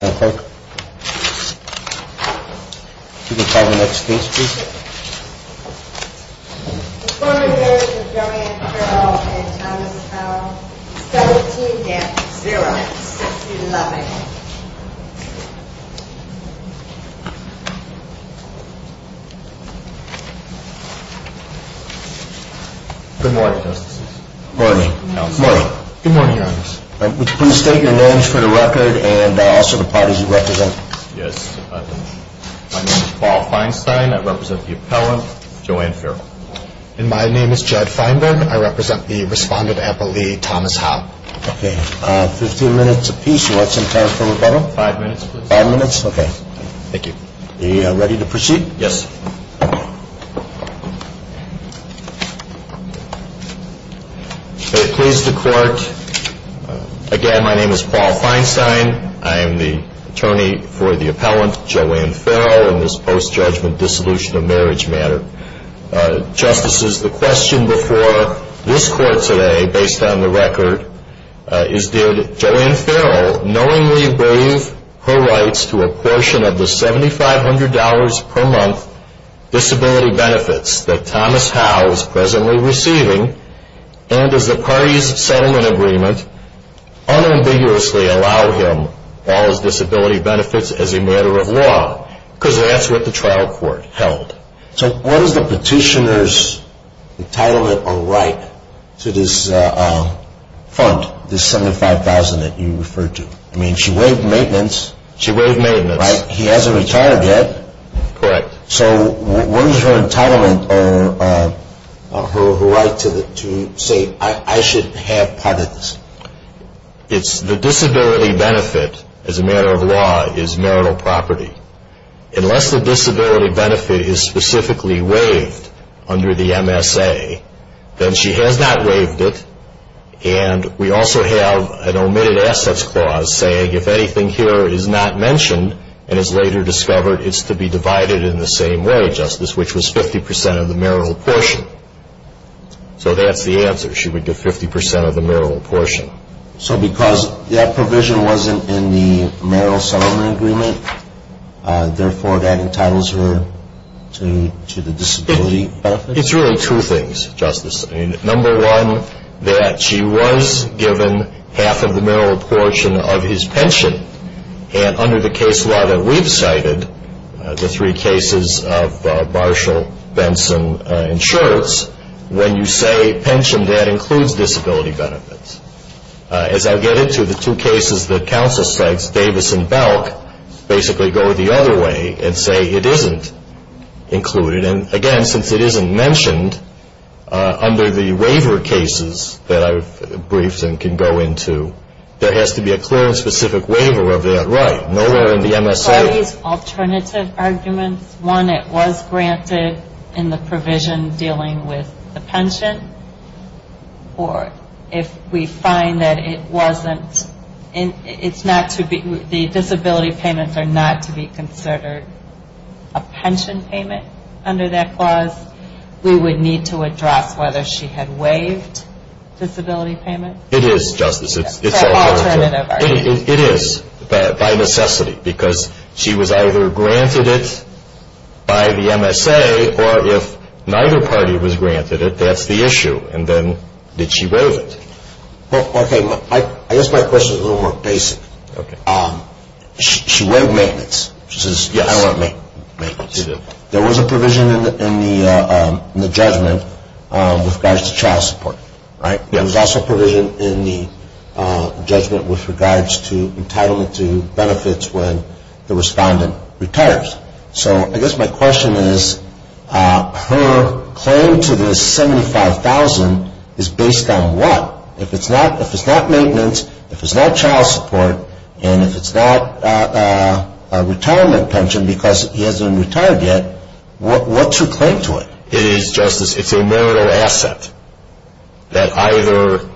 and Thomas Powell, 17 dance, 11. Good morning, Justices. Good morning. Good morning, Your Honor. Please state your names for the record and also the parties involved. The parties you represent. Yes. My name is Paul Feinstein. I represent the appellant, Joanne Farrell. And my name is Judd Feinburn. I represent the respondent, Appellee Thomas Howe. Okay. Fifteen minutes apiece. You want some time for rebuttal? Five minutes, please. Five minutes? Okay. Thank you. Are you ready to proceed? Yes. May it please the Court, again, my name is Paul Feinstein. I am the attorney for the appellant, Joanne Farrell, in this post-judgment dissolution of marriage matter. Justices, the question before this Court today, based on the record, is did Joanne Farrell knowingly waive her rights to a portion of the $7,500 per month disability benefits that Thomas Howe is presently receiving? And does the parties' settlement agreement unambiguously allow him all his disability benefits as a matter of law? Because that's what the trial court held. So what is the petitioner's entitlement or right to this fund, this $7,500 that you referred to? I mean, she waived maintenance. She waived maintenance. Right. He hasn't retired yet. Correct. So what is her entitlement or her right to say, I should have part of this? The disability benefit, as a matter of law, is marital property. Unless the disability benefit is specifically waived under the MSA, then she has not waived it, and we also have an omitted assets clause saying if anything here is not mentioned and is later discovered, it's to be divided in the same way, Justice, which was 50% of the marital portion. So that's the answer. She would get 50% of the marital portion. So because that provision wasn't in the marital settlement agreement, therefore that entitles her to the disability benefit? It's really two things, Justice. Number one, that she was given half of the marital portion of his pension, and under the case law that we've cited, the three cases of Marshall, Benson, and Schultz, when you say pension debt includes disability benefits, as I'll get into the two cases that counsel cites, Davis and Belk, basically go the other way and say it isn't included. And, again, since it isn't mentioned under the waiver cases that I've briefed and can go into, there has to be a clear and specific waiver of that right. Nowhere in the MSA. Are these alternative arguments? One, it was granted in the provision dealing with the pension, or if we find that it wasn't, the disability payments are not to be considered a pension payment under that clause, we would need to address whether she had waived disability payments? It is, Justice. It is, by necessity, because she was either granted it by the MSA, or if neither party was granted it, that's the issue, and then did she waive it? I guess my question is a little more basic. She waived maintenance. There was a provision in the judgment with regards to child support, right? There was also a provision in the judgment with regards to entitlement to benefits when the respondent retires. So I guess my question is her claim to the $75,000 is based on what? If it's not maintenance, if it's not child support, and if it's not a retirement pension because he hasn't retired yet, what's her claim to it? It is, Justice, it's a marital asset that either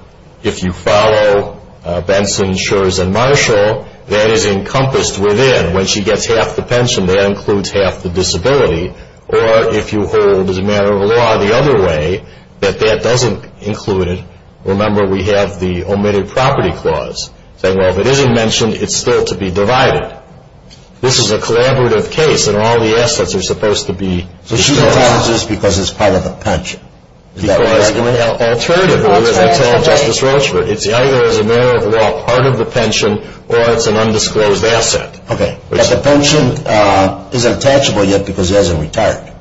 if you follow Benson, Schurz, and Marshall, that is encompassed within when she gets half the pension, that includes half the disability, or if you hold as a matter of law the other way, that that doesn't include it. Remember, we have the omitted property clause saying, well, if it isn't mentioned, it's still to be divided. This is a collaborative case, and all the assets are supposed to be discussed. So she retires just because it's part of the pension. Because alternatively, as I tell Justice Roach, it's either as a matter of law part of the pension, or it's an undisclosed asset. Okay, but the pension isn't attachable yet because he hasn't retired.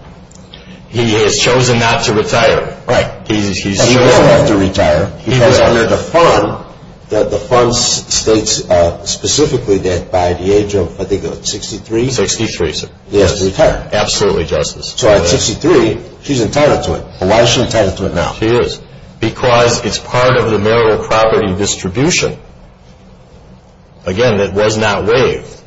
He has chosen not to retire. Right. He won't have to retire because under the fund, the fund states specifically that by the age of, I think, 63? 63, sir. He has to retire. Absolutely, Justice. So at 63, she's entitled to it, but why is she entitled to it now? She is. Because it's part of the marital property distribution, again, that was not waived,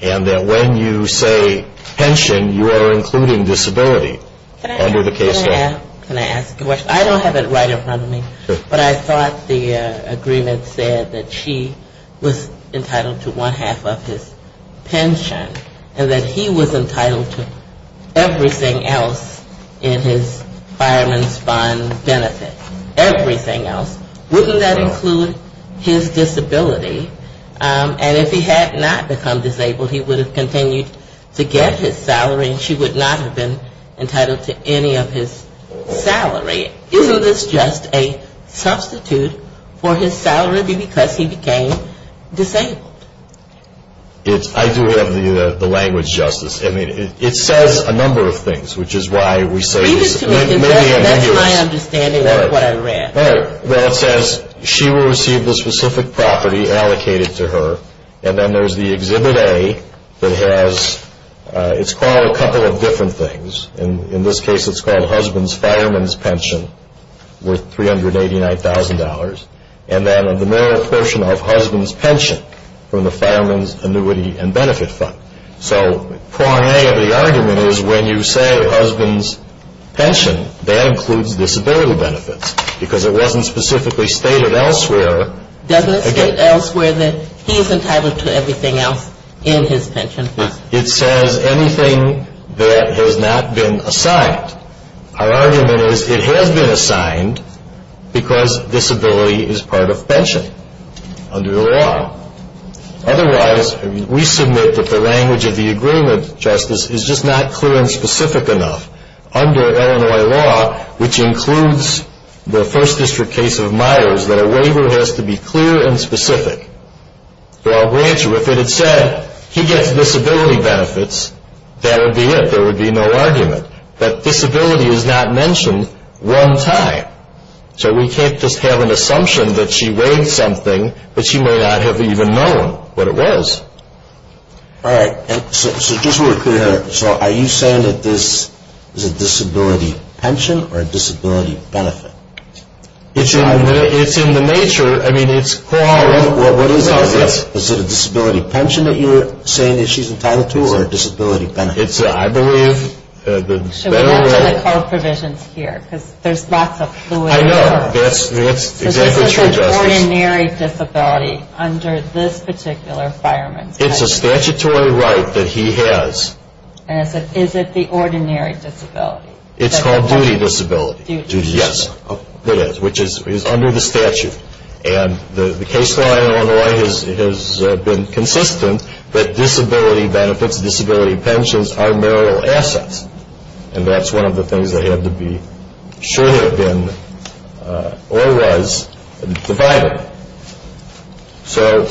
and that when you say pension, you are including disability under the case law. Can I ask a question? I don't have it right in front of me, but I thought the agreement said that she was entitled to one half of his pension, and that he was entitled to everything else in his fireman's fund benefit, everything else. Wouldn't that include his disability? And if he had not become disabled, he would have continued to get his salary, and she would not have been entitled to any of his salary. Isn't this just a substitute for his salary because he became disabled? I do have the language, Justice. I mean, it says a number of things, which is why we say it's many and numerous. That's my understanding of what I read. All right. Well, it says she will receive the specific property allocated to her, and then there's the Exhibit A that has, it's called a couple of different things. In this case, it's called husband's fireman's pension worth $389,000, and then the mere portion of husband's pension from the fireman's annuity and benefit fund. So prong A of the argument is when you say husband's pension, that includes disability benefits because it wasn't specifically stated elsewhere. Doesn't it state elsewhere that he's entitled to everything else in his pension fund? It says anything that has not been assigned. Our argument is it has been assigned because disability is part of pension under the law. Otherwise, we submit that the language of the agreement, Justice, is just not clear and specific enough. Under Illinois law, which includes the First District case of Myers, that a waiver has to be clear and specific. So I'll grant you, if it had said he gets disability benefits, that would be it. There would be no argument that disability is not mentioned one time. So we can't just have an assumption that she waived something, but she may not have even known what it was. All right. So just so we're clear here, so are you saying that this is a disability pension or a disability benefit? It's in the nature. I mean, it's called. Well, what is it? Is it a disability pension that you're saying that she's entitled to or a disability benefit? It's, I believe, the better way. So we're not going to call provisions here because there's lots of fluid. I know. That's exactly true, Justice. So this is an ordinary disability under this particular fireman's case. It's a statutory right that he has. And is it the ordinary disability? It's called duty disability. Duty disability. Yes, it is, which is under the statute. And the case law in Illinois has been consistent that disability benefits, disability pensions, are marital assets. And that's one of the things that had to be, should have been, or was divided. So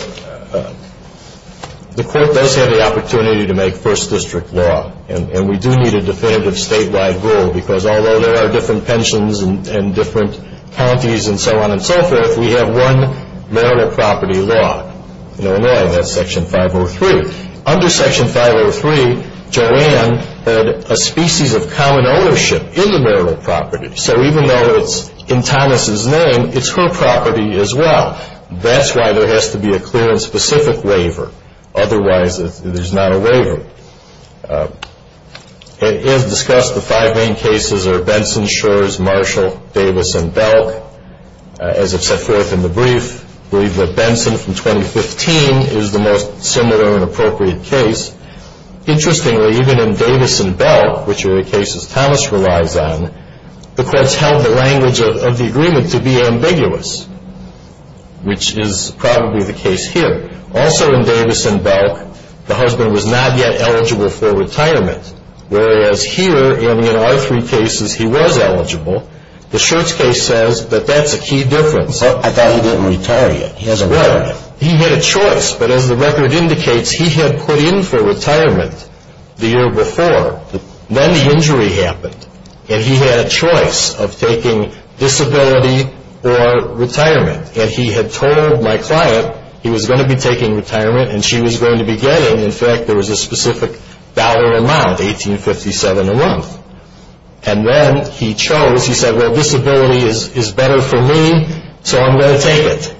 the court does have the opportunity to make first district law. And we do need a definitive statewide rule because although there are different pensions and different counties and so on and so forth, we have one marital property law in Illinois, and that's Section 503. Under Section 503, Joanne had a species of common ownership in the marital property. So even though it's in Thomas' name, it's her property as well. That's why there has to be a clear and specific waiver. Otherwise, there's not a waiver. As discussed, the five main cases are Benson, Shores, Marshall, Davis, and Belk. As I've set forth in the brief, I believe that Benson from 2015 is the most similar and appropriate case. Interestingly, even in Davis and Belk, which are the cases Thomas relies on, the courts held the language of the agreement to be ambiguous, which is probably the case here. Also in Davis and Belk, the husband was not yet eligible for retirement, whereas here, and in all three cases, he was eligible. The Shorts case says that that's a key difference. I thought he didn't retire yet. He hasn't retired yet. He had a choice, but as the record indicates, he had put in for retirement the year before. Then the injury happened, and he had a choice of taking disability or retirement. He had told my client he was going to be taking retirement, and she was going to be getting. In fact, there was a specific dollar amount, $18.57 a month. Then he chose. He said, well, disability is better for me, so I'm going to take it.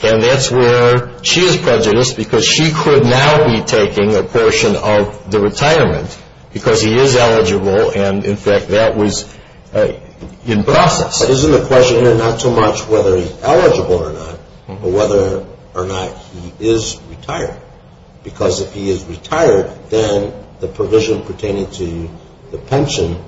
That's where she is prejudiced because she could now be taking a portion of the retirement because he is eligible. In fact, that was in process. Isn't the question here not so much whether he's eligible or not, but whether or not he is retired? Because if he is retired, then the provision pertaining to the pension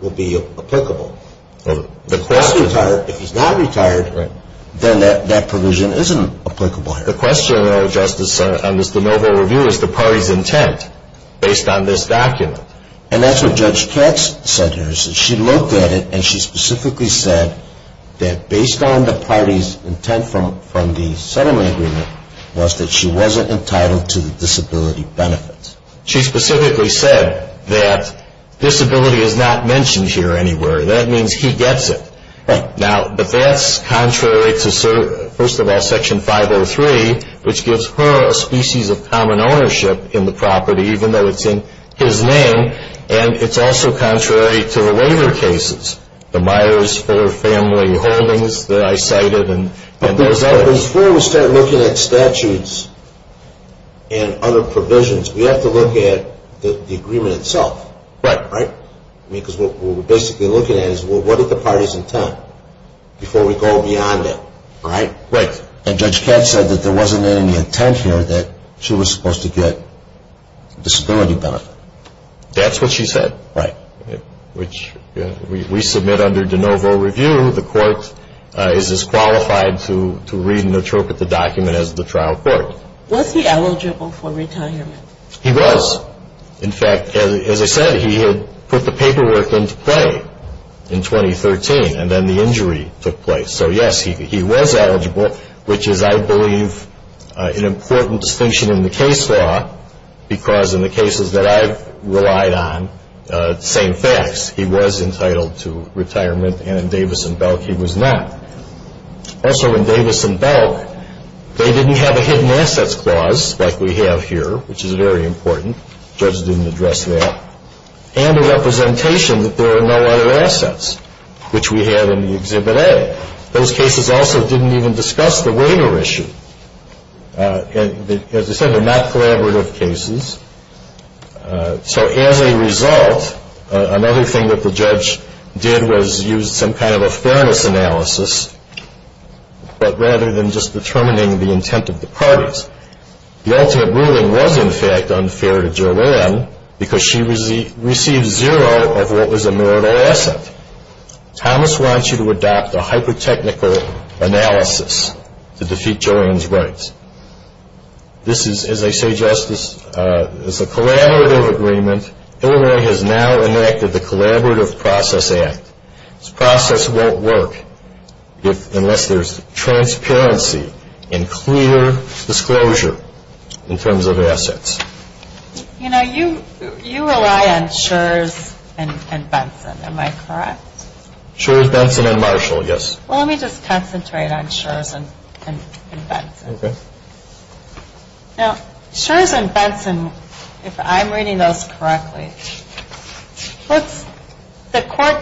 will be applicable. If he's not retired, then that provision isn't applicable here. The question, though, Justice, on this de novo review is the party's intent based on this document. And that's what Judge Katz said here. She looked at it, and she specifically said that based on the party's intent from the settlement agreement, was that she wasn't entitled to the disability benefits. She specifically said that disability is not mentioned here anywhere. That means he gets it. Right. Now, but that's contrary to, first of all, Section 503, which gives her a species of common ownership in the property, even though it's in his name. And it's also contrary to the waiver cases, the Myers-Fuller family holdings that I cited. Before we start looking at statutes and other provisions, we have to look at the agreement itself. Right. Because what we're basically looking at is what is the party's intent before we go beyond that. Right. And Judge Katz said that there wasn't any intent here that she was supposed to get disability benefit. That's what she said. Right. Which we submit under de novo review. The court is as qualified to read and interpret the document as the trial court. Was he eligible for retirement? He was. In fact, as I said, he had put the paperwork into play in 2013, and then the injury took place. So, yes, he was eligible, which is, I believe, an important distinction in the case law, because in the cases that I've relied on, same facts. He was entitled to retirement, and in Davis and Belk he was not. Also in Davis and Belk, they didn't have a hidden assets clause like we have here, which is very important. The judge didn't address that. And a representation that there are no other assets, which we had in the Exhibit A. Those cases also didn't even discuss the waiver issue. As I said, they're not collaborative cases. So as a result, another thing that the judge did was use some kind of a fairness analysis, but rather than just determining the intent of the parties. The ultimate ruling was, in fact, unfair to Joanne because she received zero of what was a marital asset. Thomas wants you to adopt a hyper-technical analysis to defeat Joanne's rights. This is, as I say, Justice, it's a collaborative agreement. Illinois has now enacted the Collaborative Process Act. This process won't work unless there's transparency and clear disclosure in terms of assets. You know, you rely on Schurz and Benson, am I correct? Schurz, Benson, and Marshall, yes. Well, let me just concentrate on Schurz and Benson. Okay. Now, Schurz and Benson, if I'm reading those correctly, the court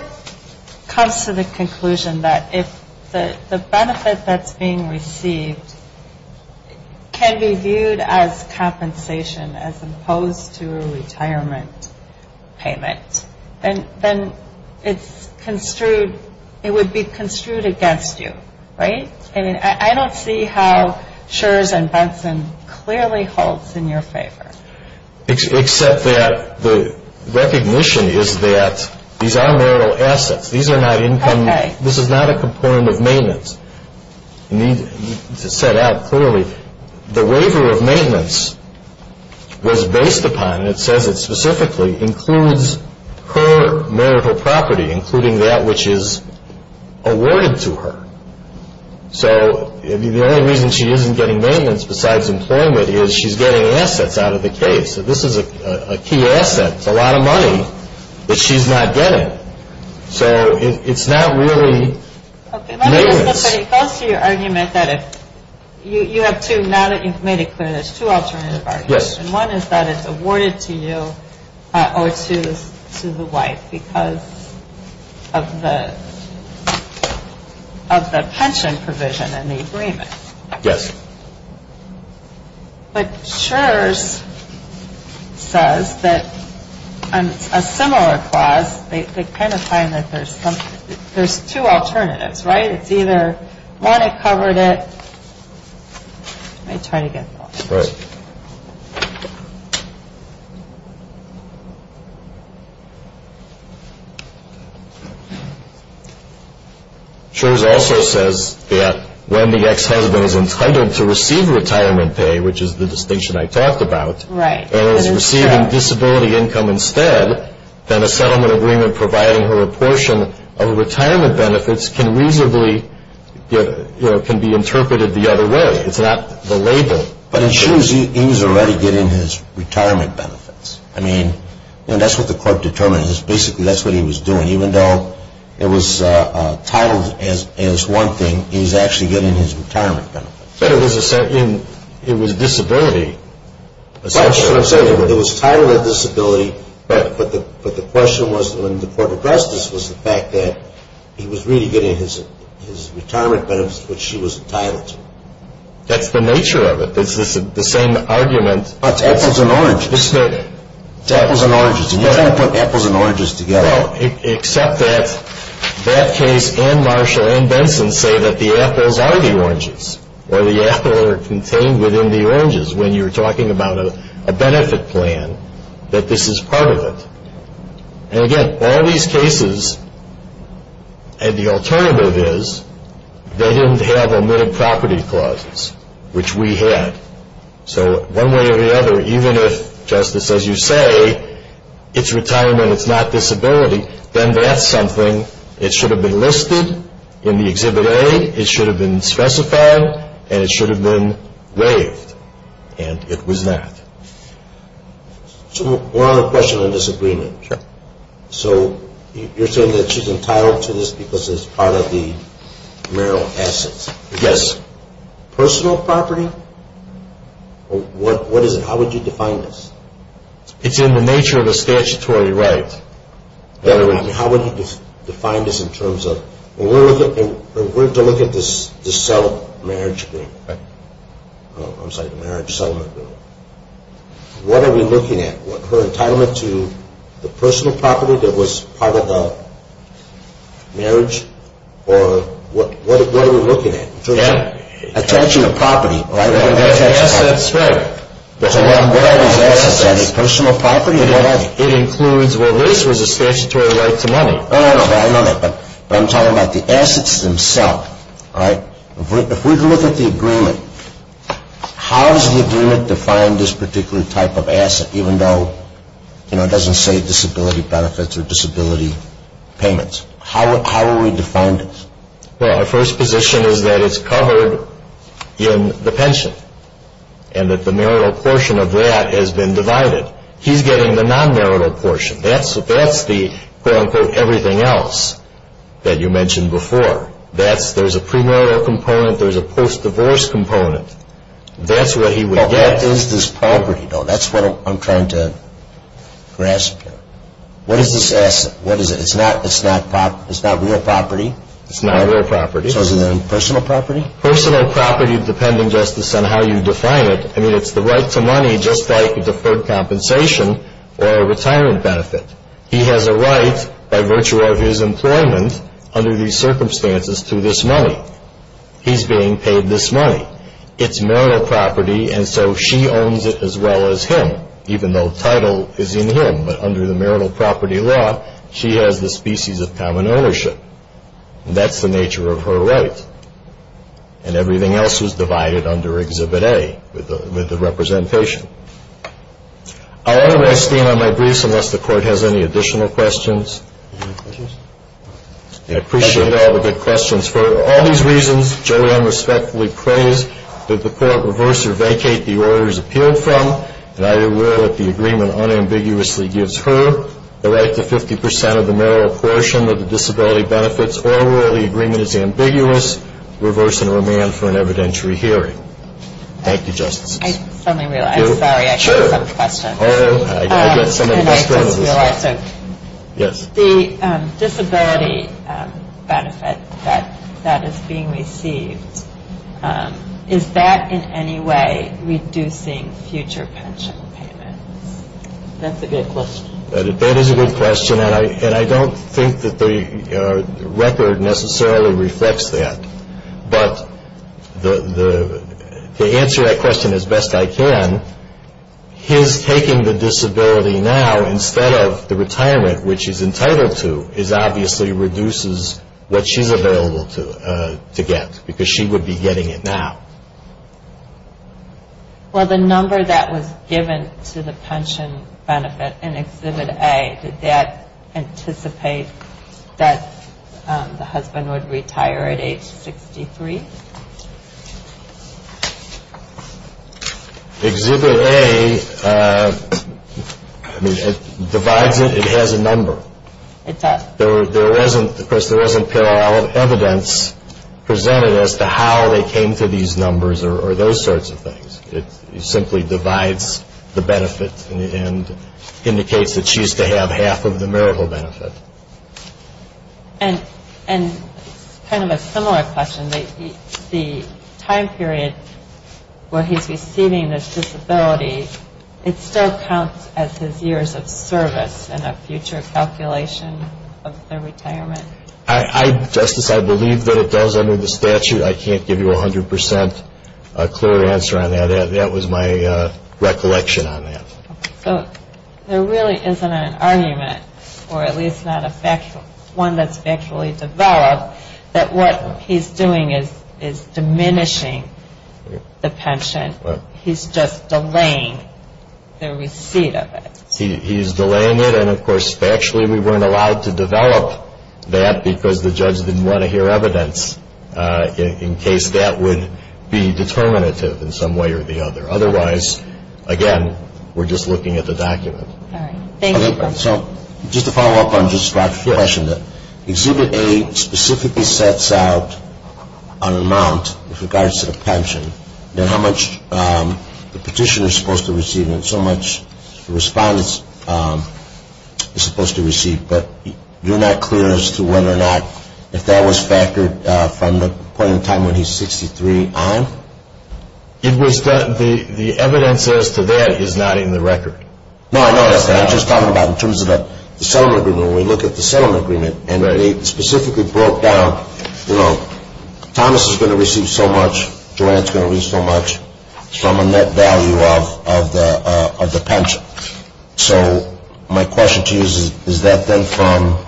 comes to the conclusion that if the benefit that's being received can be viewed as compensation as opposed to a retirement payment, then it would be construed against you, right? I mean, I don't see how Schurz and Benson clearly holds in your favor. Except that the recognition is that these are marital assets. These are not income. Okay. This is not a component of maintenance. You need to set out clearly the waiver of maintenance was based upon, and it says it specifically, includes her marital property, including that which is awarded to her. So the only reason she isn't getting maintenance besides employment is she's getting assets out of the case. This is a key asset. It's a lot of money that she's not getting. So it's not really maintenance. Okay. Let me just say, it goes to your argument that if you have two, now that you've made it clear, there's two alternative arguments. Yes. One is that it's awarded to you or to the wife because of the pension provision in the agreement. Yes. But Schurz says that a similar clause, they kind of find that there's two alternatives, right? It's either, one, it covered it. Let me try again. All right. Schurz also says that when the ex-husband is entitled to receive retirement pay, which is the distinction I talked about, and is receiving disability income instead, then a settlement agreement providing her a portion of retirement benefits can reasonably, can be interpreted the other way. It's not the label. But Schurz, he was already getting his retirement benefits. I mean, that's what the court determined. Basically, that's what he was doing. Even though it was titled as one thing, he was actually getting his retirement benefits. But it was disability. That's what I'm saying. It was titled as disability, but the question was in the court of justice was the fact that he was really getting his retirement benefits, which she was entitled to. That's the nature of it. It's the same argument. It's apples and oranges. It's apples and oranges. You can't put apples and oranges together. Well, except that that case and Marshall and Benson say that the apples are the oranges, or the apples are contained within the oranges. When you're talking about a benefit plan, that this is part of it. And again, all these cases, and the alternative is they didn't have omitted property clauses, which we had. So one way or the other, even if, justice, as you say, it's retirement, it's not disability, then that's something. It should have been listed in the Exhibit A. It should have been specified, and it should have been waived. And it was that. So we're on a question of disagreement. Sure. So you're saying that she's entitled to this because it's part of the marital assets. Yes. Personal property? What is it? How would you define this? It's in the nature of a statutory right. How would you define this in terms of, when we're to look at this marriage settlement agreement, what are we looking at? Her entitlement to the personal property that was part of the marriage? Or what are we looking at? Attention to property. Right. What are these assets? Personal property? It includes, well, this was a statutory right to money. Oh, I know that. But I'm talking about the assets themselves. All right. If we were to look at the agreement, how does the agreement define this particular type of asset, even though it doesn't say disability benefits or disability payments? How would we define this? Well, our first position is that it's covered in the pension and that the marital portion of that has been divided. He's getting the non-marital portion. That's the, quote, unquote, everything else that you mentioned before. There's a premarital component. There's a post-divorce component. That's what he would get. What is this property, though? That's what I'm trying to grasp here. What is this asset? What is it? It's not real property? It's not real property. So is it personal property? Personal property, depending, Justice, on how you define it. I mean, it's the right to money just like a deferred compensation or a retirement benefit. He has a right by virtue of his employment under these circumstances to this money. He's being paid this money. It's marital property, and so she owns it as well as him, even though title is in him. But under the marital property law, she has the species of common ownership. That's the nature of her right. And everything else is divided under Exhibit A with the representation. I'll automate Steen on my briefs unless the Court has any additional questions. I appreciate all the good questions. For all these reasons, Joanne respectfully prays that the Court reverse or vacate the orders appealed from, and I do will that the agreement unambiguously gives her the right to 50 percent of the marital portion of the disability benefits or will the agreement is ambiguous, reverse and remand for an evidentiary hearing. Thank you, Justices. I suddenly realized. I'm sorry. I have some questions. Sure. I've got so many questions. Yes. The disability benefit that is being received, is that in any way reducing future pension payments? That's a good question. That is a good question. And I don't think that the record necessarily reflects that. But to answer that question as best I can, his taking the disability now instead of the retirement, which he's entitled to, is obviously reduces what she's available to get because she would be getting it now. Well, the number that was given to the pension benefit in Exhibit A, did that anticipate that the husband would retire at age 63? Exhibit A divides it. It has a number. It does. Of course, there isn't parallel evidence presented as to how they came to these numbers or those sorts of things. It simply divides the benefit and indicates that she's to have half of the marital benefit. And kind of a similar question, the time period where he's receiving this disability, it still counts as his years of service in a future calculation of the retirement? Justice, I believe that it does under the statute. I can't give you 100 percent clear answer on that. That was my recollection on that. So there really isn't an argument, or at least not one that's factually developed, that what he's doing is diminishing the pension. He's just delaying the receipt of it. He's delaying it. And, of course, factually we weren't allowed to develop that because the judge didn't want to hear evidence in case that would be determinative in some way or the other. Otherwise, again, we're just looking at the document. All right. So just to follow up on Justice Trotsky's question, Exhibit A specifically sets out an amount with regards to the pension, then how much the petitioner is supposed to receive and so much the respondent is supposed to receive. But you're not clear as to whether or not if that was factored from the point in time when he's 63 on? The evidence as to that is not in the record. No, I know that. I'm just talking about in terms of the settlement agreement. When we look at the settlement agreement and they specifically broke down, you know, Thomas is going to receive so much, Joanne is going to receive so much from a net value of the pension. So my question to you is, is that then from,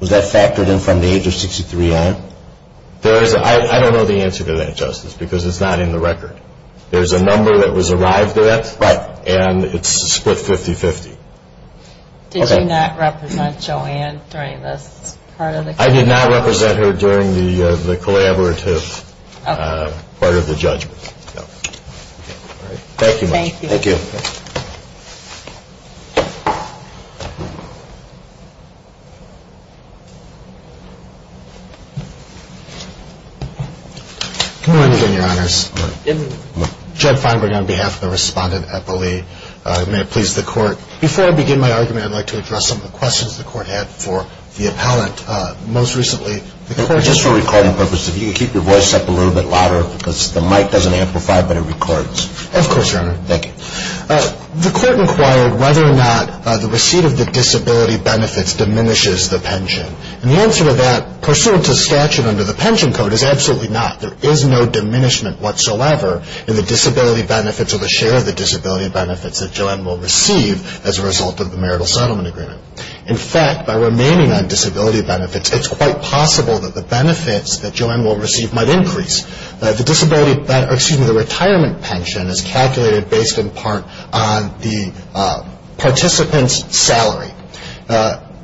was that factored in from the age of 63 on? I don't know the answer to that, Justice, because it's not in the record. There's a number that was arrived at and it's split 50-50. Okay. Did you not represent Joanne during this part of the court? I did not represent her during the collaborative part of the judgment. Okay. Thank you. Thank you. Thank you. Good morning, Your Honors. Good morning. Judd Feinberg on behalf of the respondent at the Lee. May it please the court. Before I begin my argument, I'd like to address some of the questions the court had for the appellant. Most recently, the court just for recording purposes, if you could keep your voice up a little bit louder because the mic doesn't amplify, but it records. Of course, Your Honor. Thank you. The court inquired whether or not the receipt of the disability benefits diminishes the pension. And the answer to that, pursuant to statute under the pension code, is absolutely not. There is no diminishment whatsoever in the disability benefits or the share of the disability benefits that Joanne will receive as a result of the marital settlement agreement. In fact, by remaining on disability benefits, it's quite possible that the benefits that Joanne will receive might increase. The retirement pension is calculated based in part on the participant's salary.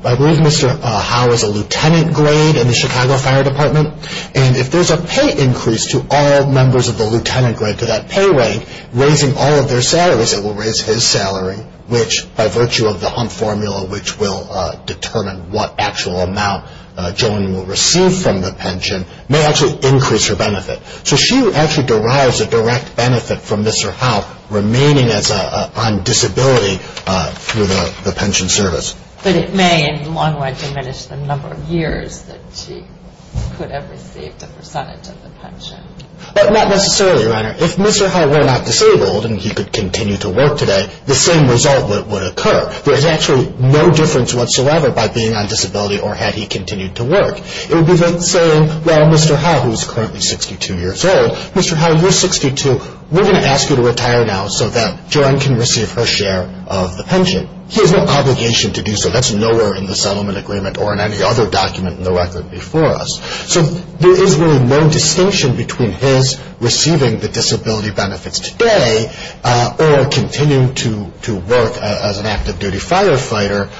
I believe Mr. Howe is a lieutenant grade in the Chicago Fire Department. And if there's a pay increase to all members of the lieutenant grade to that pay rate, raising all of their salaries, it will raise his salary, which by virtue of the Hump Formula, which will determine what actual amount Joanne will receive from the pension, may actually increase her benefit. So she actually derives a direct benefit from Mr. Howe remaining on disability through the pension service. But it may in the long run diminish the number of years that she could have received a percentage of the pension. But not necessarily, Your Honor. If Mr. Howe were not disabled and he could continue to work today, the same result would occur. There is actually no difference whatsoever by being on disability or had he continued to work. It would be like saying, well, Mr. Howe, who is currently 62 years old, Mr. Howe, you're 62, we're going to ask you to retire now so that Joanne can receive her share of the pension. He has no obligation to do so. That's nowhere in the settlement agreement or in any other document in the record before us. So there is really no distinction between his receiving the disability benefits today or continuing to work as an active duty firefighter.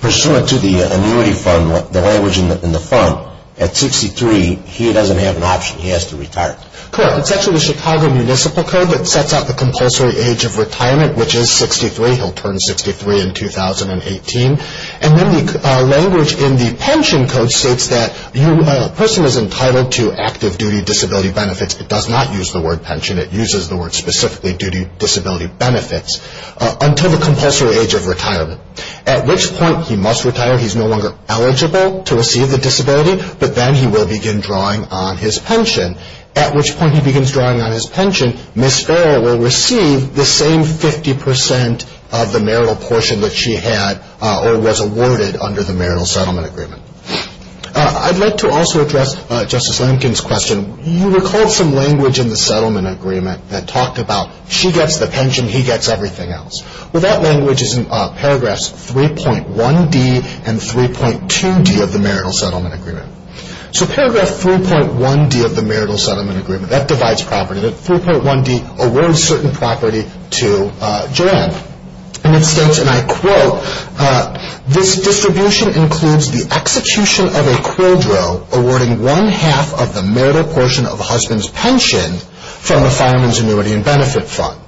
Pursuant to the annuity fund, the language in the fund, at 63, he doesn't have an option. He has to retire. Correct. It's actually the Chicago Municipal Code that sets out the compulsory age of retirement, which is 63. He'll turn 63 in 2018. And then the language in the pension code states that a person is entitled to active duty disability benefits. It does not use the word pension. It uses the word specifically duty disability benefits until the compulsory age of retirement, at which point he must retire. He's no longer eligible to receive the disability, but then he will begin drawing on his pension, at which point he begins drawing on his pension. Ms. Farrell will receive the same 50% of the marital portion that she had or was awarded under the marital settlement agreement. I'd like to also address Justice Lankin's question. You recalled some language in the settlement agreement that talked about she gets the pension, he gets everything else. Well, that language is in paragraphs 3.1D and 3.2D of the marital settlement agreement. So paragraph 3.1D of the marital settlement agreement, that divides property. 3.1D awards certain property to Joanne. And it states, and I quote, this distribution includes the execution of a quidro awarding one-half of the marital portion of a husband's pension from a fireman's annuity and benefit fund.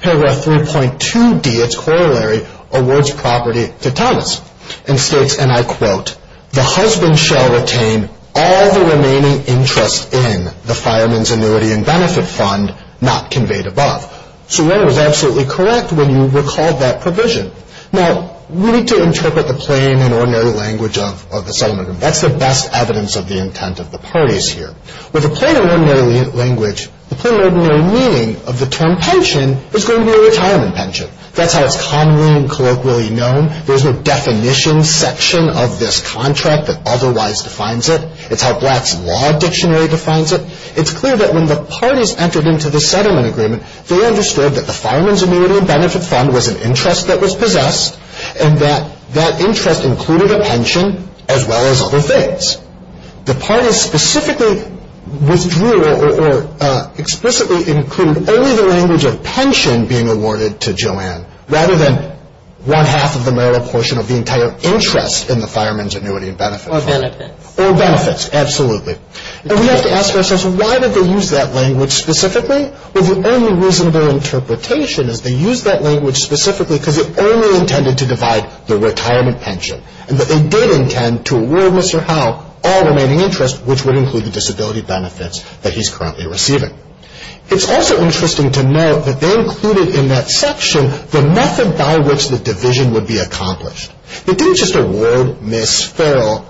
Paragraph 3.2D, its corollary, awards property to Thomas and states, and I quote, the husband shall retain all the remaining interest in the fireman's annuity and benefit fund, not conveyed above. So Joanne was absolutely correct when you recalled that provision. Now, we need to interpret the plain and ordinary language of the settlement agreement. That's the best evidence of the intent of the parties here. With the plain and ordinary language, the plain and ordinary meaning of the term pension is going to be a retirement pension. That's how it's commonly and colloquially known. There's no definition section of this contract that otherwise defines it. It's how Black's Law Dictionary defines it. It's clear that when the parties entered into the settlement agreement, they understood that the fireman's annuity and benefit fund was an interest that was possessed and that that interest included a pension as well as other things. The parties specifically withdrew or explicitly included only the language of pension being awarded to Joanne rather than one-half of the marital portion of the entire interest in the fireman's annuity and benefit fund. Or benefits. Or benefits, absolutely. And we have to ask ourselves, why did they use that language specifically? Well, the only reasonable interpretation is they used that language specifically because it only intended to divide the retirement pension, and that they did intend to award Mr. Howe all remaining interest, which would include the disability benefits that he's currently receiving. It's also interesting to note that they included in that section the method by which the division would be accomplished. It didn't just award Ms. Farrell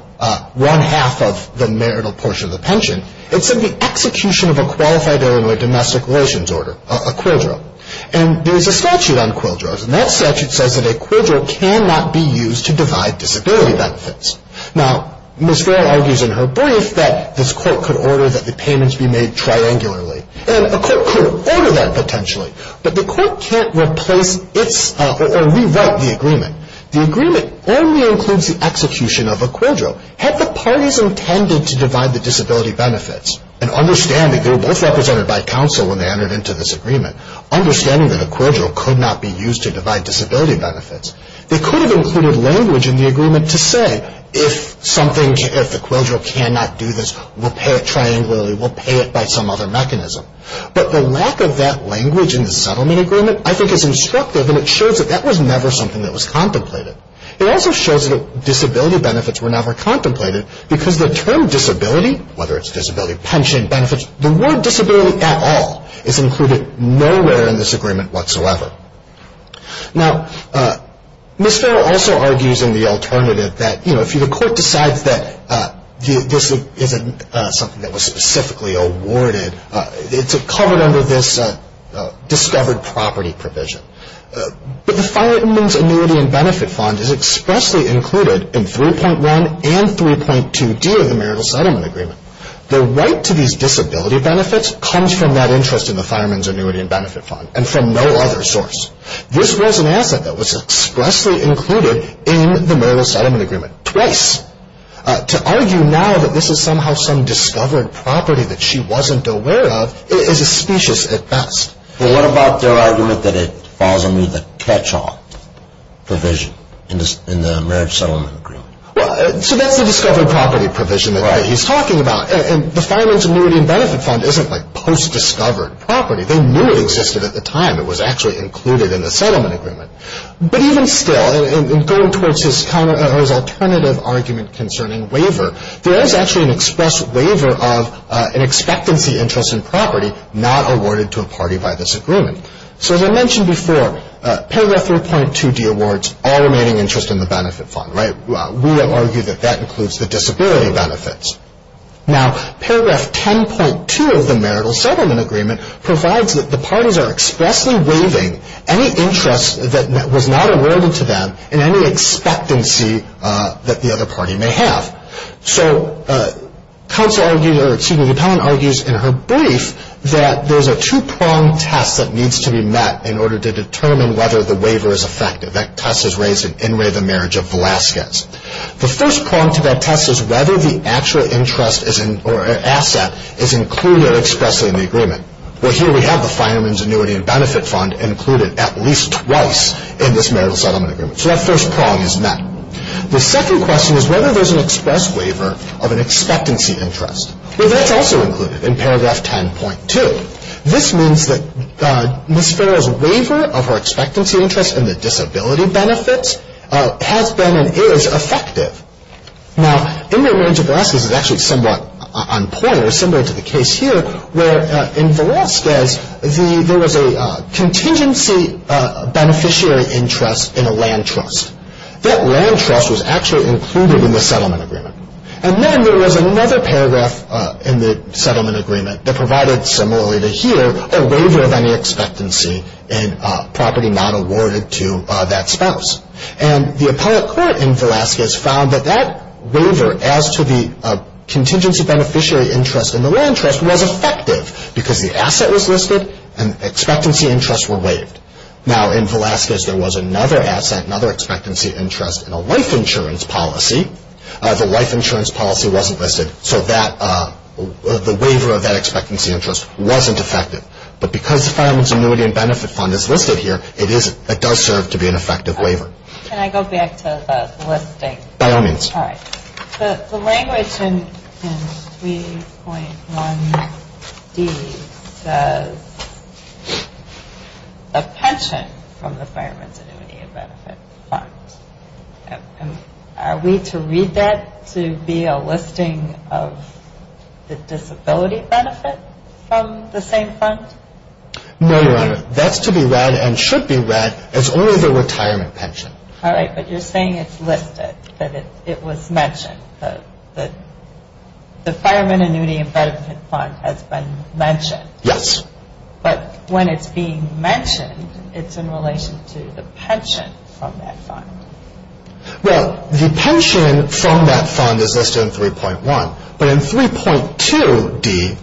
one-half of the marital portion of the pension. It said the execution of a qualified heir in a domestic relations order, a quidro. And there's a statute on quidros, and that statute says that a quidro cannot be used to divide disability benefits. Now, Ms. Farrell argues in her brief that this court could order that the payments be made triangularly. And a court could order that, potentially. But the court can't replace or rewrite the agreement. The agreement only includes the execution of a quidro. Had the parties intended to divide the disability benefits, and understanding they were both represented by counsel when they entered into this agreement, understanding that a quidro could not be used to divide disability benefits, they could have included language in the agreement to say, if the quidro cannot do this, we'll pay it triangularly, we'll pay it by some other mechanism. But the lack of that language in the settlement agreement, I think, is instructive, and it shows that that was never something that was contemplated. It also shows that disability benefits were never contemplated, because the term disability, whether it's disability pension, benefits, the word disability at all is included nowhere in this agreement whatsoever. Now, Ms. Farrell also argues in the alternative that, you know, if the court decides that this isn't something that was specifically awarded, it's covered under this discovered property provision. But the Fireman's Annuity and Benefit Fund is expressly included in 3.1 and 3.2D of the Marital Settlement Agreement. The right to these disability benefits comes from that interest in the Fireman's Annuity and Benefit Fund, and from no other source. This was an asset that was expressly included in the Marital Settlement Agreement, twice. To argue now that this is somehow some discovered property that she wasn't aware of is a specious at best. Well, what about their argument that it falls under the catch-all provision in the Marriage Settlement Agreement? Well, so that's the discovered property provision that he's talking about, and the Fireman's Annuity and Benefit Fund isn't like post-discovered property. They knew it existed at the time it was actually included in the settlement agreement. But even still, in going towards his alternative argument concerning waiver, there is actually an express waiver of an expectancy interest in property not awarded to a party by this agreement. So, as I mentioned before, paragraph 3.2D awards all remaining interest in the benefit fund, right? We will argue that that includes the disability benefits. Now, paragraph 10.2 of the Marital Settlement Agreement provides that the parties are expressly waiving any interest that was not awarded to them in any expectancy that the other party may have. So, counsel argues, or excuse me, the appellant argues in her brief that there's a two-prong test that needs to be met in order to determine whether the waiver is effective. That test is raised in In Re of the Marriage of Velazquez. The first prong to that test is whether the actual interest or asset is included expressly in the agreement. Well, here we have the Fireman's Annuity and Benefit Fund included at least twice in this Marital Settlement Agreement. So, that first prong is met. The second question is whether there's an express waiver of an expectancy interest. Well, that's also included in paragraph 10.2. This means that Ms. Farrell's waiver of her expectancy interest in the disability benefits has been and is effective. Now, In Re of the Marriage of Velazquez is actually somewhat on point or similar to the case here where in Velazquez there was a contingency beneficiary interest in a land trust. That land trust was actually included in the settlement agreement. And then there was another paragraph in the settlement agreement that provided similarly to here a waiver of any expectancy in property not awarded to that spouse. And the appellate court in Velazquez found that that waiver as to the contingency beneficiary interest in the land trust was effective because the asset was listed and expectancy interests were waived. Now, in Velazquez there was another asset, another expectancy interest in a life insurance policy. The life insurance policy wasn't listed, so the waiver of that expectancy interest wasn't effective. But because the Fireman's Annuity and Benefit Fund is listed here, it does serve to be an effective waiver. Can I go back to the listing? By all means. All right. The language in 3.1D says a pension from the Fireman's Annuity and Benefit Fund. Are we to read that to be a listing of the disability benefit from the same fund? No, Your Honor. That's to be read and should be read as only the retirement pension. All right. But you're saying it's listed, that it was mentioned, that the Fireman's Annuity and Benefit Fund has been mentioned. Yes. But when it's being mentioned, it's in relation to the pension from that fund. Well, the pension from that fund is listed in 3.1. But in 3.2D,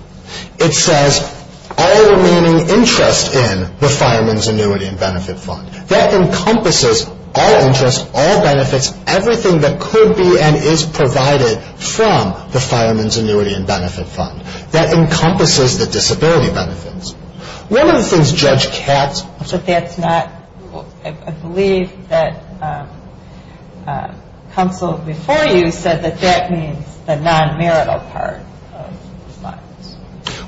it says all remaining interest in the Fireman's Annuity and Benefit Fund. That encompasses all interest, all benefits, everything that could be and is provided from the Fireman's Annuity and Benefit Fund. That encompasses the disability benefits. One of the things Judge Katz ---- But that's not, I believe that counsel before you said that that means the non-marital part of the funds.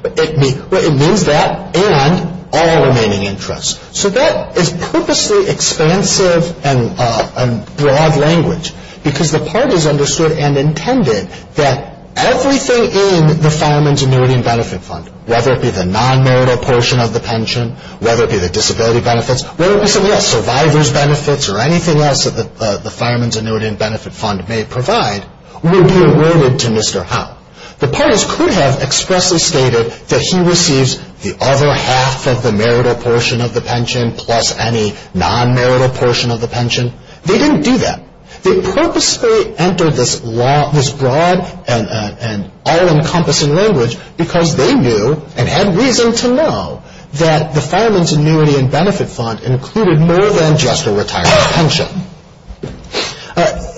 It means that and all remaining interest. So that is purposely expansive and broad language because the parties understood and intended that everything in the Fireman's Annuity and Benefit Fund, whether it be the non-marital portion of the pension, whether it be the disability benefits, whether it be something else, survivor's benefits or anything else that the Fireman's Annuity and Benefit Fund may provide, will be awarded to Mr. Hunt. The parties could have expressly stated that he receives the other half of the marital portion of the pension plus any non-marital portion of the pension. They didn't do that. They purposely entered this broad and all-encompassing language because they knew and had reason to know that the Fireman's Annuity and Benefit Fund included more than just a retired pension.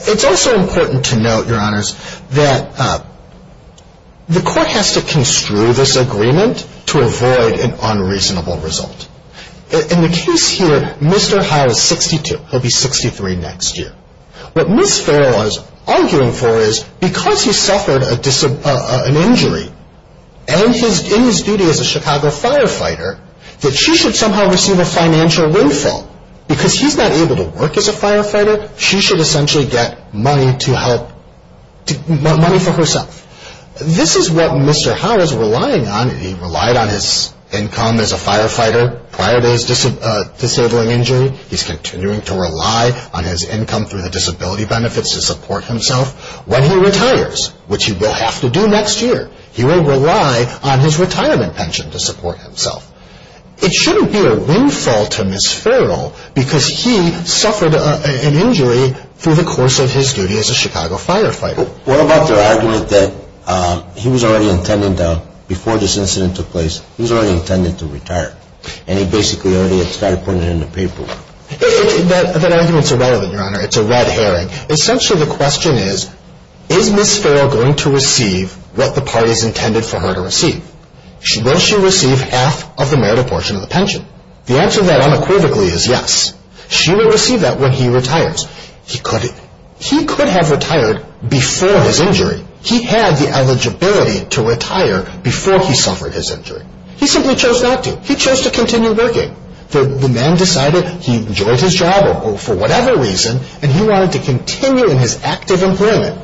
It's also important to note, Your Honors, that the Court has to construe this agreement to avoid an unreasonable result. In the case here, Mr. Howe is 62. He'll be 63 next year. What Ms. Farrell is arguing for is because he suffered an injury and in his duty as a Chicago firefighter, that she should somehow receive a financial windfall. Because he's not able to work as a firefighter, she should essentially get money for herself. This is what Mr. Howe is relying on. He relied on his income as a firefighter prior to his disabling injury. He's continuing to rely on his income through the disability benefits to support himself. When he retires, which he will have to do next year, he will rely on his retirement pension to support himself. It shouldn't be a windfall to Ms. Farrell because he suffered an injury through the course of his duty as a Chicago firefighter. What about the argument that he was already intended, before this incident took place, he was already intended to retire? And he basically already had started putting it in the paperwork? That argument is irrelevant, Your Honor. It's a red herring. Essentially, the question is, is Ms. Farrell going to receive what the parties intended for her to receive? Will she receive half of the meritable portion of the pension? The answer to that unequivocally is yes. She will receive that when he retires. He could have retired before his injury. He had the eligibility to retire before he suffered his injury. He simply chose not to. He chose to continue working. The man decided he enjoyed his job, or for whatever reason, and he wanted to continue in his active employment.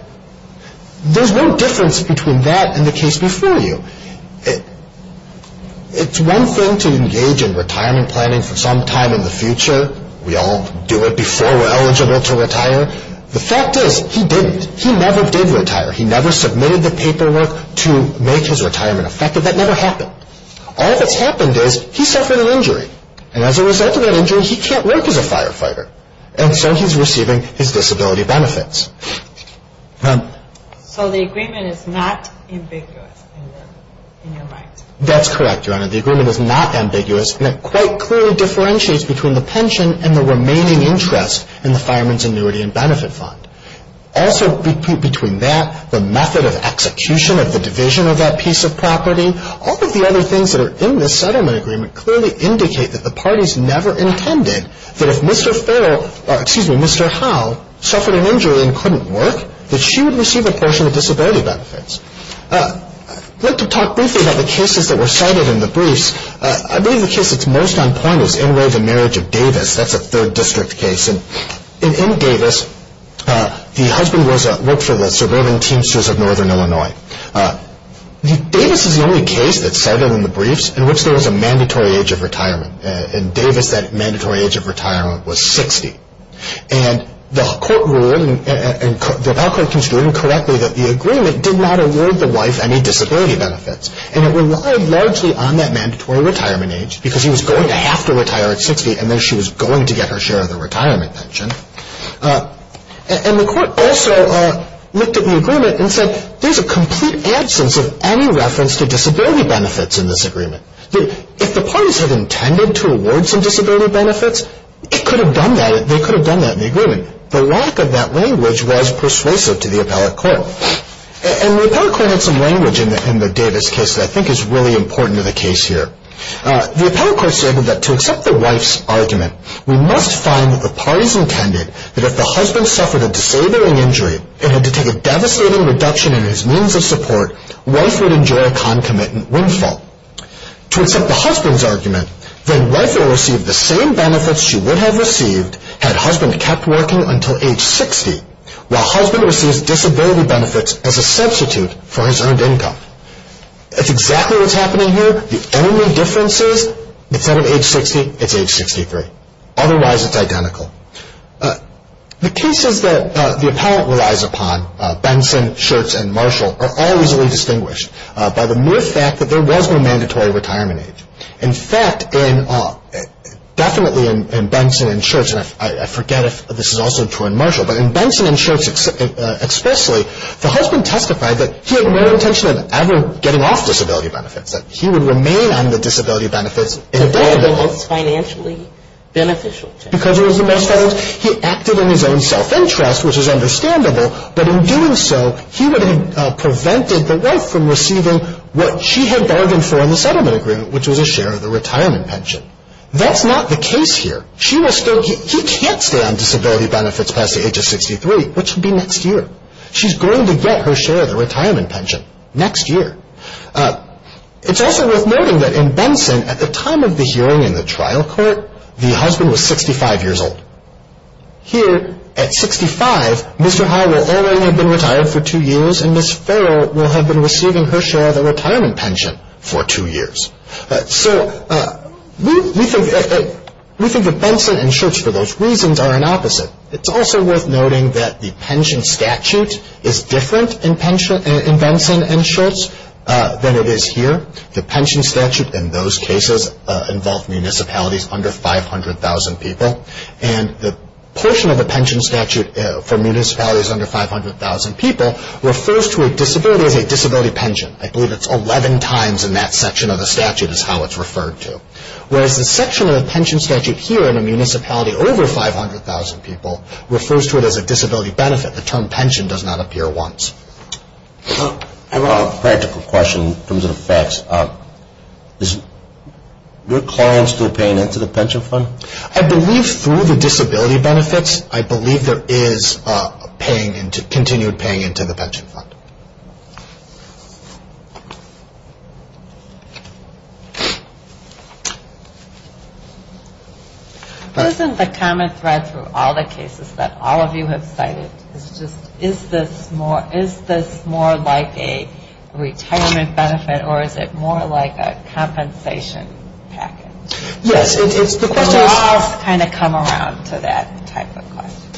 There's no difference between that and the case before you. It's one thing to engage in retirement planning for some time in the future. We all do it before we're eligible to retire. The fact is, he didn't. He never did retire. He never submitted the paperwork to make his retirement effective. That never happened. All that's happened is he suffered an injury. And as a result of that injury, he can't work as a firefighter. And so he's receiving his disability benefits. So the agreement is not ambiguous in your mind? That's correct, Your Honor. The agreement is not ambiguous. And it quite clearly differentiates between the pension and the remaining interest in the fireman's annuity and benefit fund. Also, between that, the method of execution of the division of that piece of property, all of the other things that are in this settlement agreement clearly indicate that the parties never intended that if Mr. Farrell, excuse me, Mr. Howe, suffered an injury and couldn't work, that she would receive a portion of the disability benefits. I'd like to talk briefly about the cases that were cited in the briefs. I believe the case that's most on point is Enroy v. Marriage of Davis. That's a third district case. And in Davis, the husband worked for the suburban Teamsters of Northern Illinois. Davis is the only case that's cited in the briefs in which there was a mandatory age of retirement. In Davis, that mandatory age of retirement was 60. And the court ruled, and the appeal court conceded incorrectly, that the agreement did not award the wife any disability benefits. And it relied largely on that mandatory retirement age because he was going to have to retire at 60, and then she was going to get her share of the retirement pension. And the court also looked at the agreement and said, there's a complete absence of any reference to disability benefits in this agreement. If the parties had intended to award some disability benefits, they could have done that in the agreement. The lack of that language was persuasive to the appellate court. And the appellate court had some language in the Davis case that I think is really important to the case here. The appellate court stated that to accept the wife's argument, we must find that the parties intended that if the husband suffered a disabling injury and had to take a devastating reduction in his means of support, wife would enjoy a concomitant windfall. To accept the husband's argument, then wife would receive the same benefits she would have received had husband kept working until age 60, while husband receives disability benefits as a substitute for his earned income. That's exactly what's happening here. The only difference is instead of age 60, it's age 63. Otherwise, it's identical. The cases that the appellate relies upon, Benson, Schertz, and Marshall, are all reasonably distinguished by the mere fact that there was no mandatory retirement age. In fact, definitely in Benson and Schertz, and I forget if this is also true in Marshall, but in Benson and Schertz expressly, the husband testified that he had no intention of ever getting off disability benefits, that he would remain on the disability benefits. Because it was the most financially beneficial. Because it was the most financial. He acted in his own self-interest, which is understandable, but in doing so he would have prevented the wife from receiving what she had bargained for in the settlement agreement, which was a share of the retirement pension. That's not the case here. She was still, he can't stay on disability benefits past the age of 63, which would be next year. She's going to get her share of the retirement pension next year. It's also worth noting that in Benson, at the time of the hearing in the trial court, the husband was 65 years old. Here, at 65, Mr. High will already have been retired for two years, and Ms. Farrell will have been receiving her share of the retirement pension for two years. So we think that Benson and Schertz, for those reasons, are an opposite. It's also worth noting that the pension statute is different in Benson and Schertz than it is here. The pension statute in those cases involved municipalities under 500,000 people, and the portion of the pension statute for municipalities under 500,000 people refers to a disability as a disability pension. I believe it's 11 times in that section of the statute is how it's referred to. Whereas the section of the pension statute here in a municipality over 500,000 people refers to it as a disability benefit. The term pension does not appear once. I have a practical question in terms of the facts. Is your client still paying into the pension fund? I believe through the disability benefits, I believe there is continued paying into the pension fund. Isn't the common thread through all the cases that all of you have cited, is this more like a retirement benefit or is it more like a compensation package? Laws kind of come around to that type of question.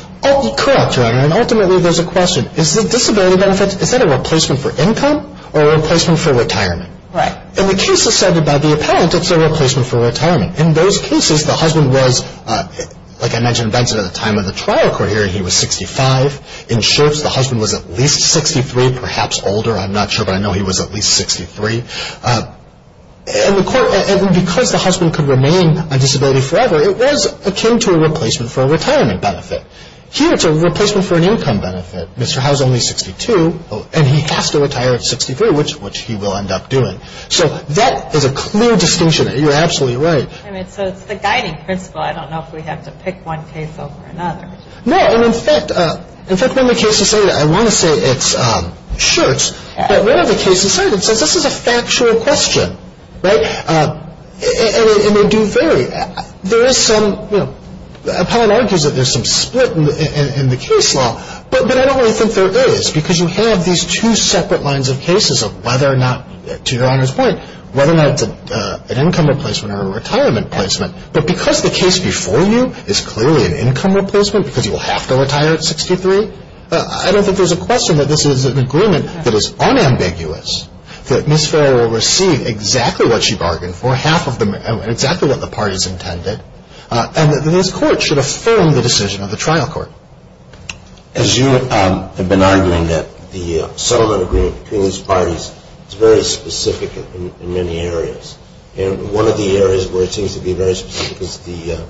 Correct, Your Honor, and ultimately there's a question. Is the disability benefit, is that a replacement for income or a replacement for retirement? In the cases cited by the appellant, it's a replacement for retirement. In those cases, the husband was, like I mentioned, Benson at the time of the trial court hearing, he was 65. In Schertz, the husband was at least 63, perhaps older, I'm not sure, but I know he was at least 63. And because the husband could remain a disability forever, it was akin to a replacement for a retirement benefit. Here, it's a replacement for an income benefit. Mr. Howe is only 62 and he has to retire at 63, which he will end up doing. So that is a clear distinction. You're absolutely right. So it's the guiding principle. I don't know if we have to pick one case over another. No, and in fact, when the case is cited, I want to say it's Schertz, but when the case is cited, it says this is a factual question, right? And they do vary. There is some, you know, the appellant argues that there's some split in the case law, but I don't really think there is because you have these two separate lines of cases of whether or not, to Your Honor's point, whether or not it's an income replacement or a retirement placement. But because the case before you is clearly an income replacement because you will have to retire at 63, I don't think there's a question that this is an agreement that is unambiguous, that Ms. Farrell will receive exactly what she bargained for, exactly what the parties intended, and that this Court should affirm the decision of the trial court. As you have been arguing that the settlement agreement between these parties is very specific in many areas, and one of the areas where it seems to be very specific is the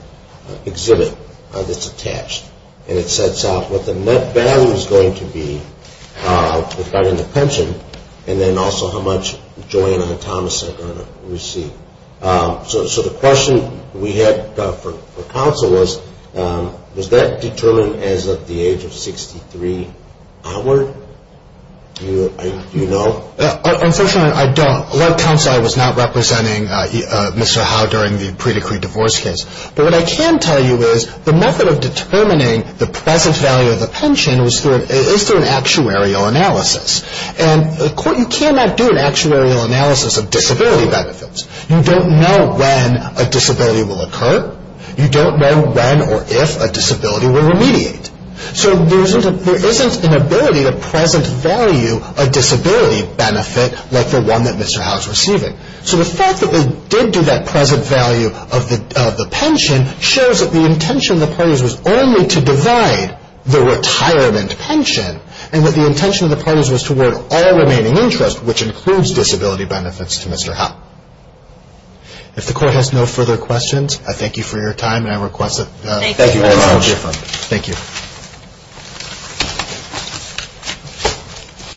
exhibit that's attached, and it sets out what the net value is going to be with regard to the pension, and then also how much Joanna Thomas is going to receive. So the question we had for counsel was, was that determined as of the age of 63 onward? Do you know? Unfortunately, I don't. A lot of counsel I was not representing Mr. Howe during the pre-decreed divorce case. But what I can tell you is the method of determining the present value of the pension is through an actuarial analysis. And the Court, you cannot do an actuarial analysis of disability benefits. You don't know when a disability will occur. You don't know when or if a disability will remediate. So there isn't an ability to present value a disability benefit like the one that Mr. Howe is receiving. So the fact that they did do that present value of the pension shows that the intention of the parties was only to divide the retirement pension and that the intention of the parties was toward all remaining interest, which includes disability benefits, to Mr. Howe. If the Court has no further questions, I thank you for your time. Thank you very much. Thank you.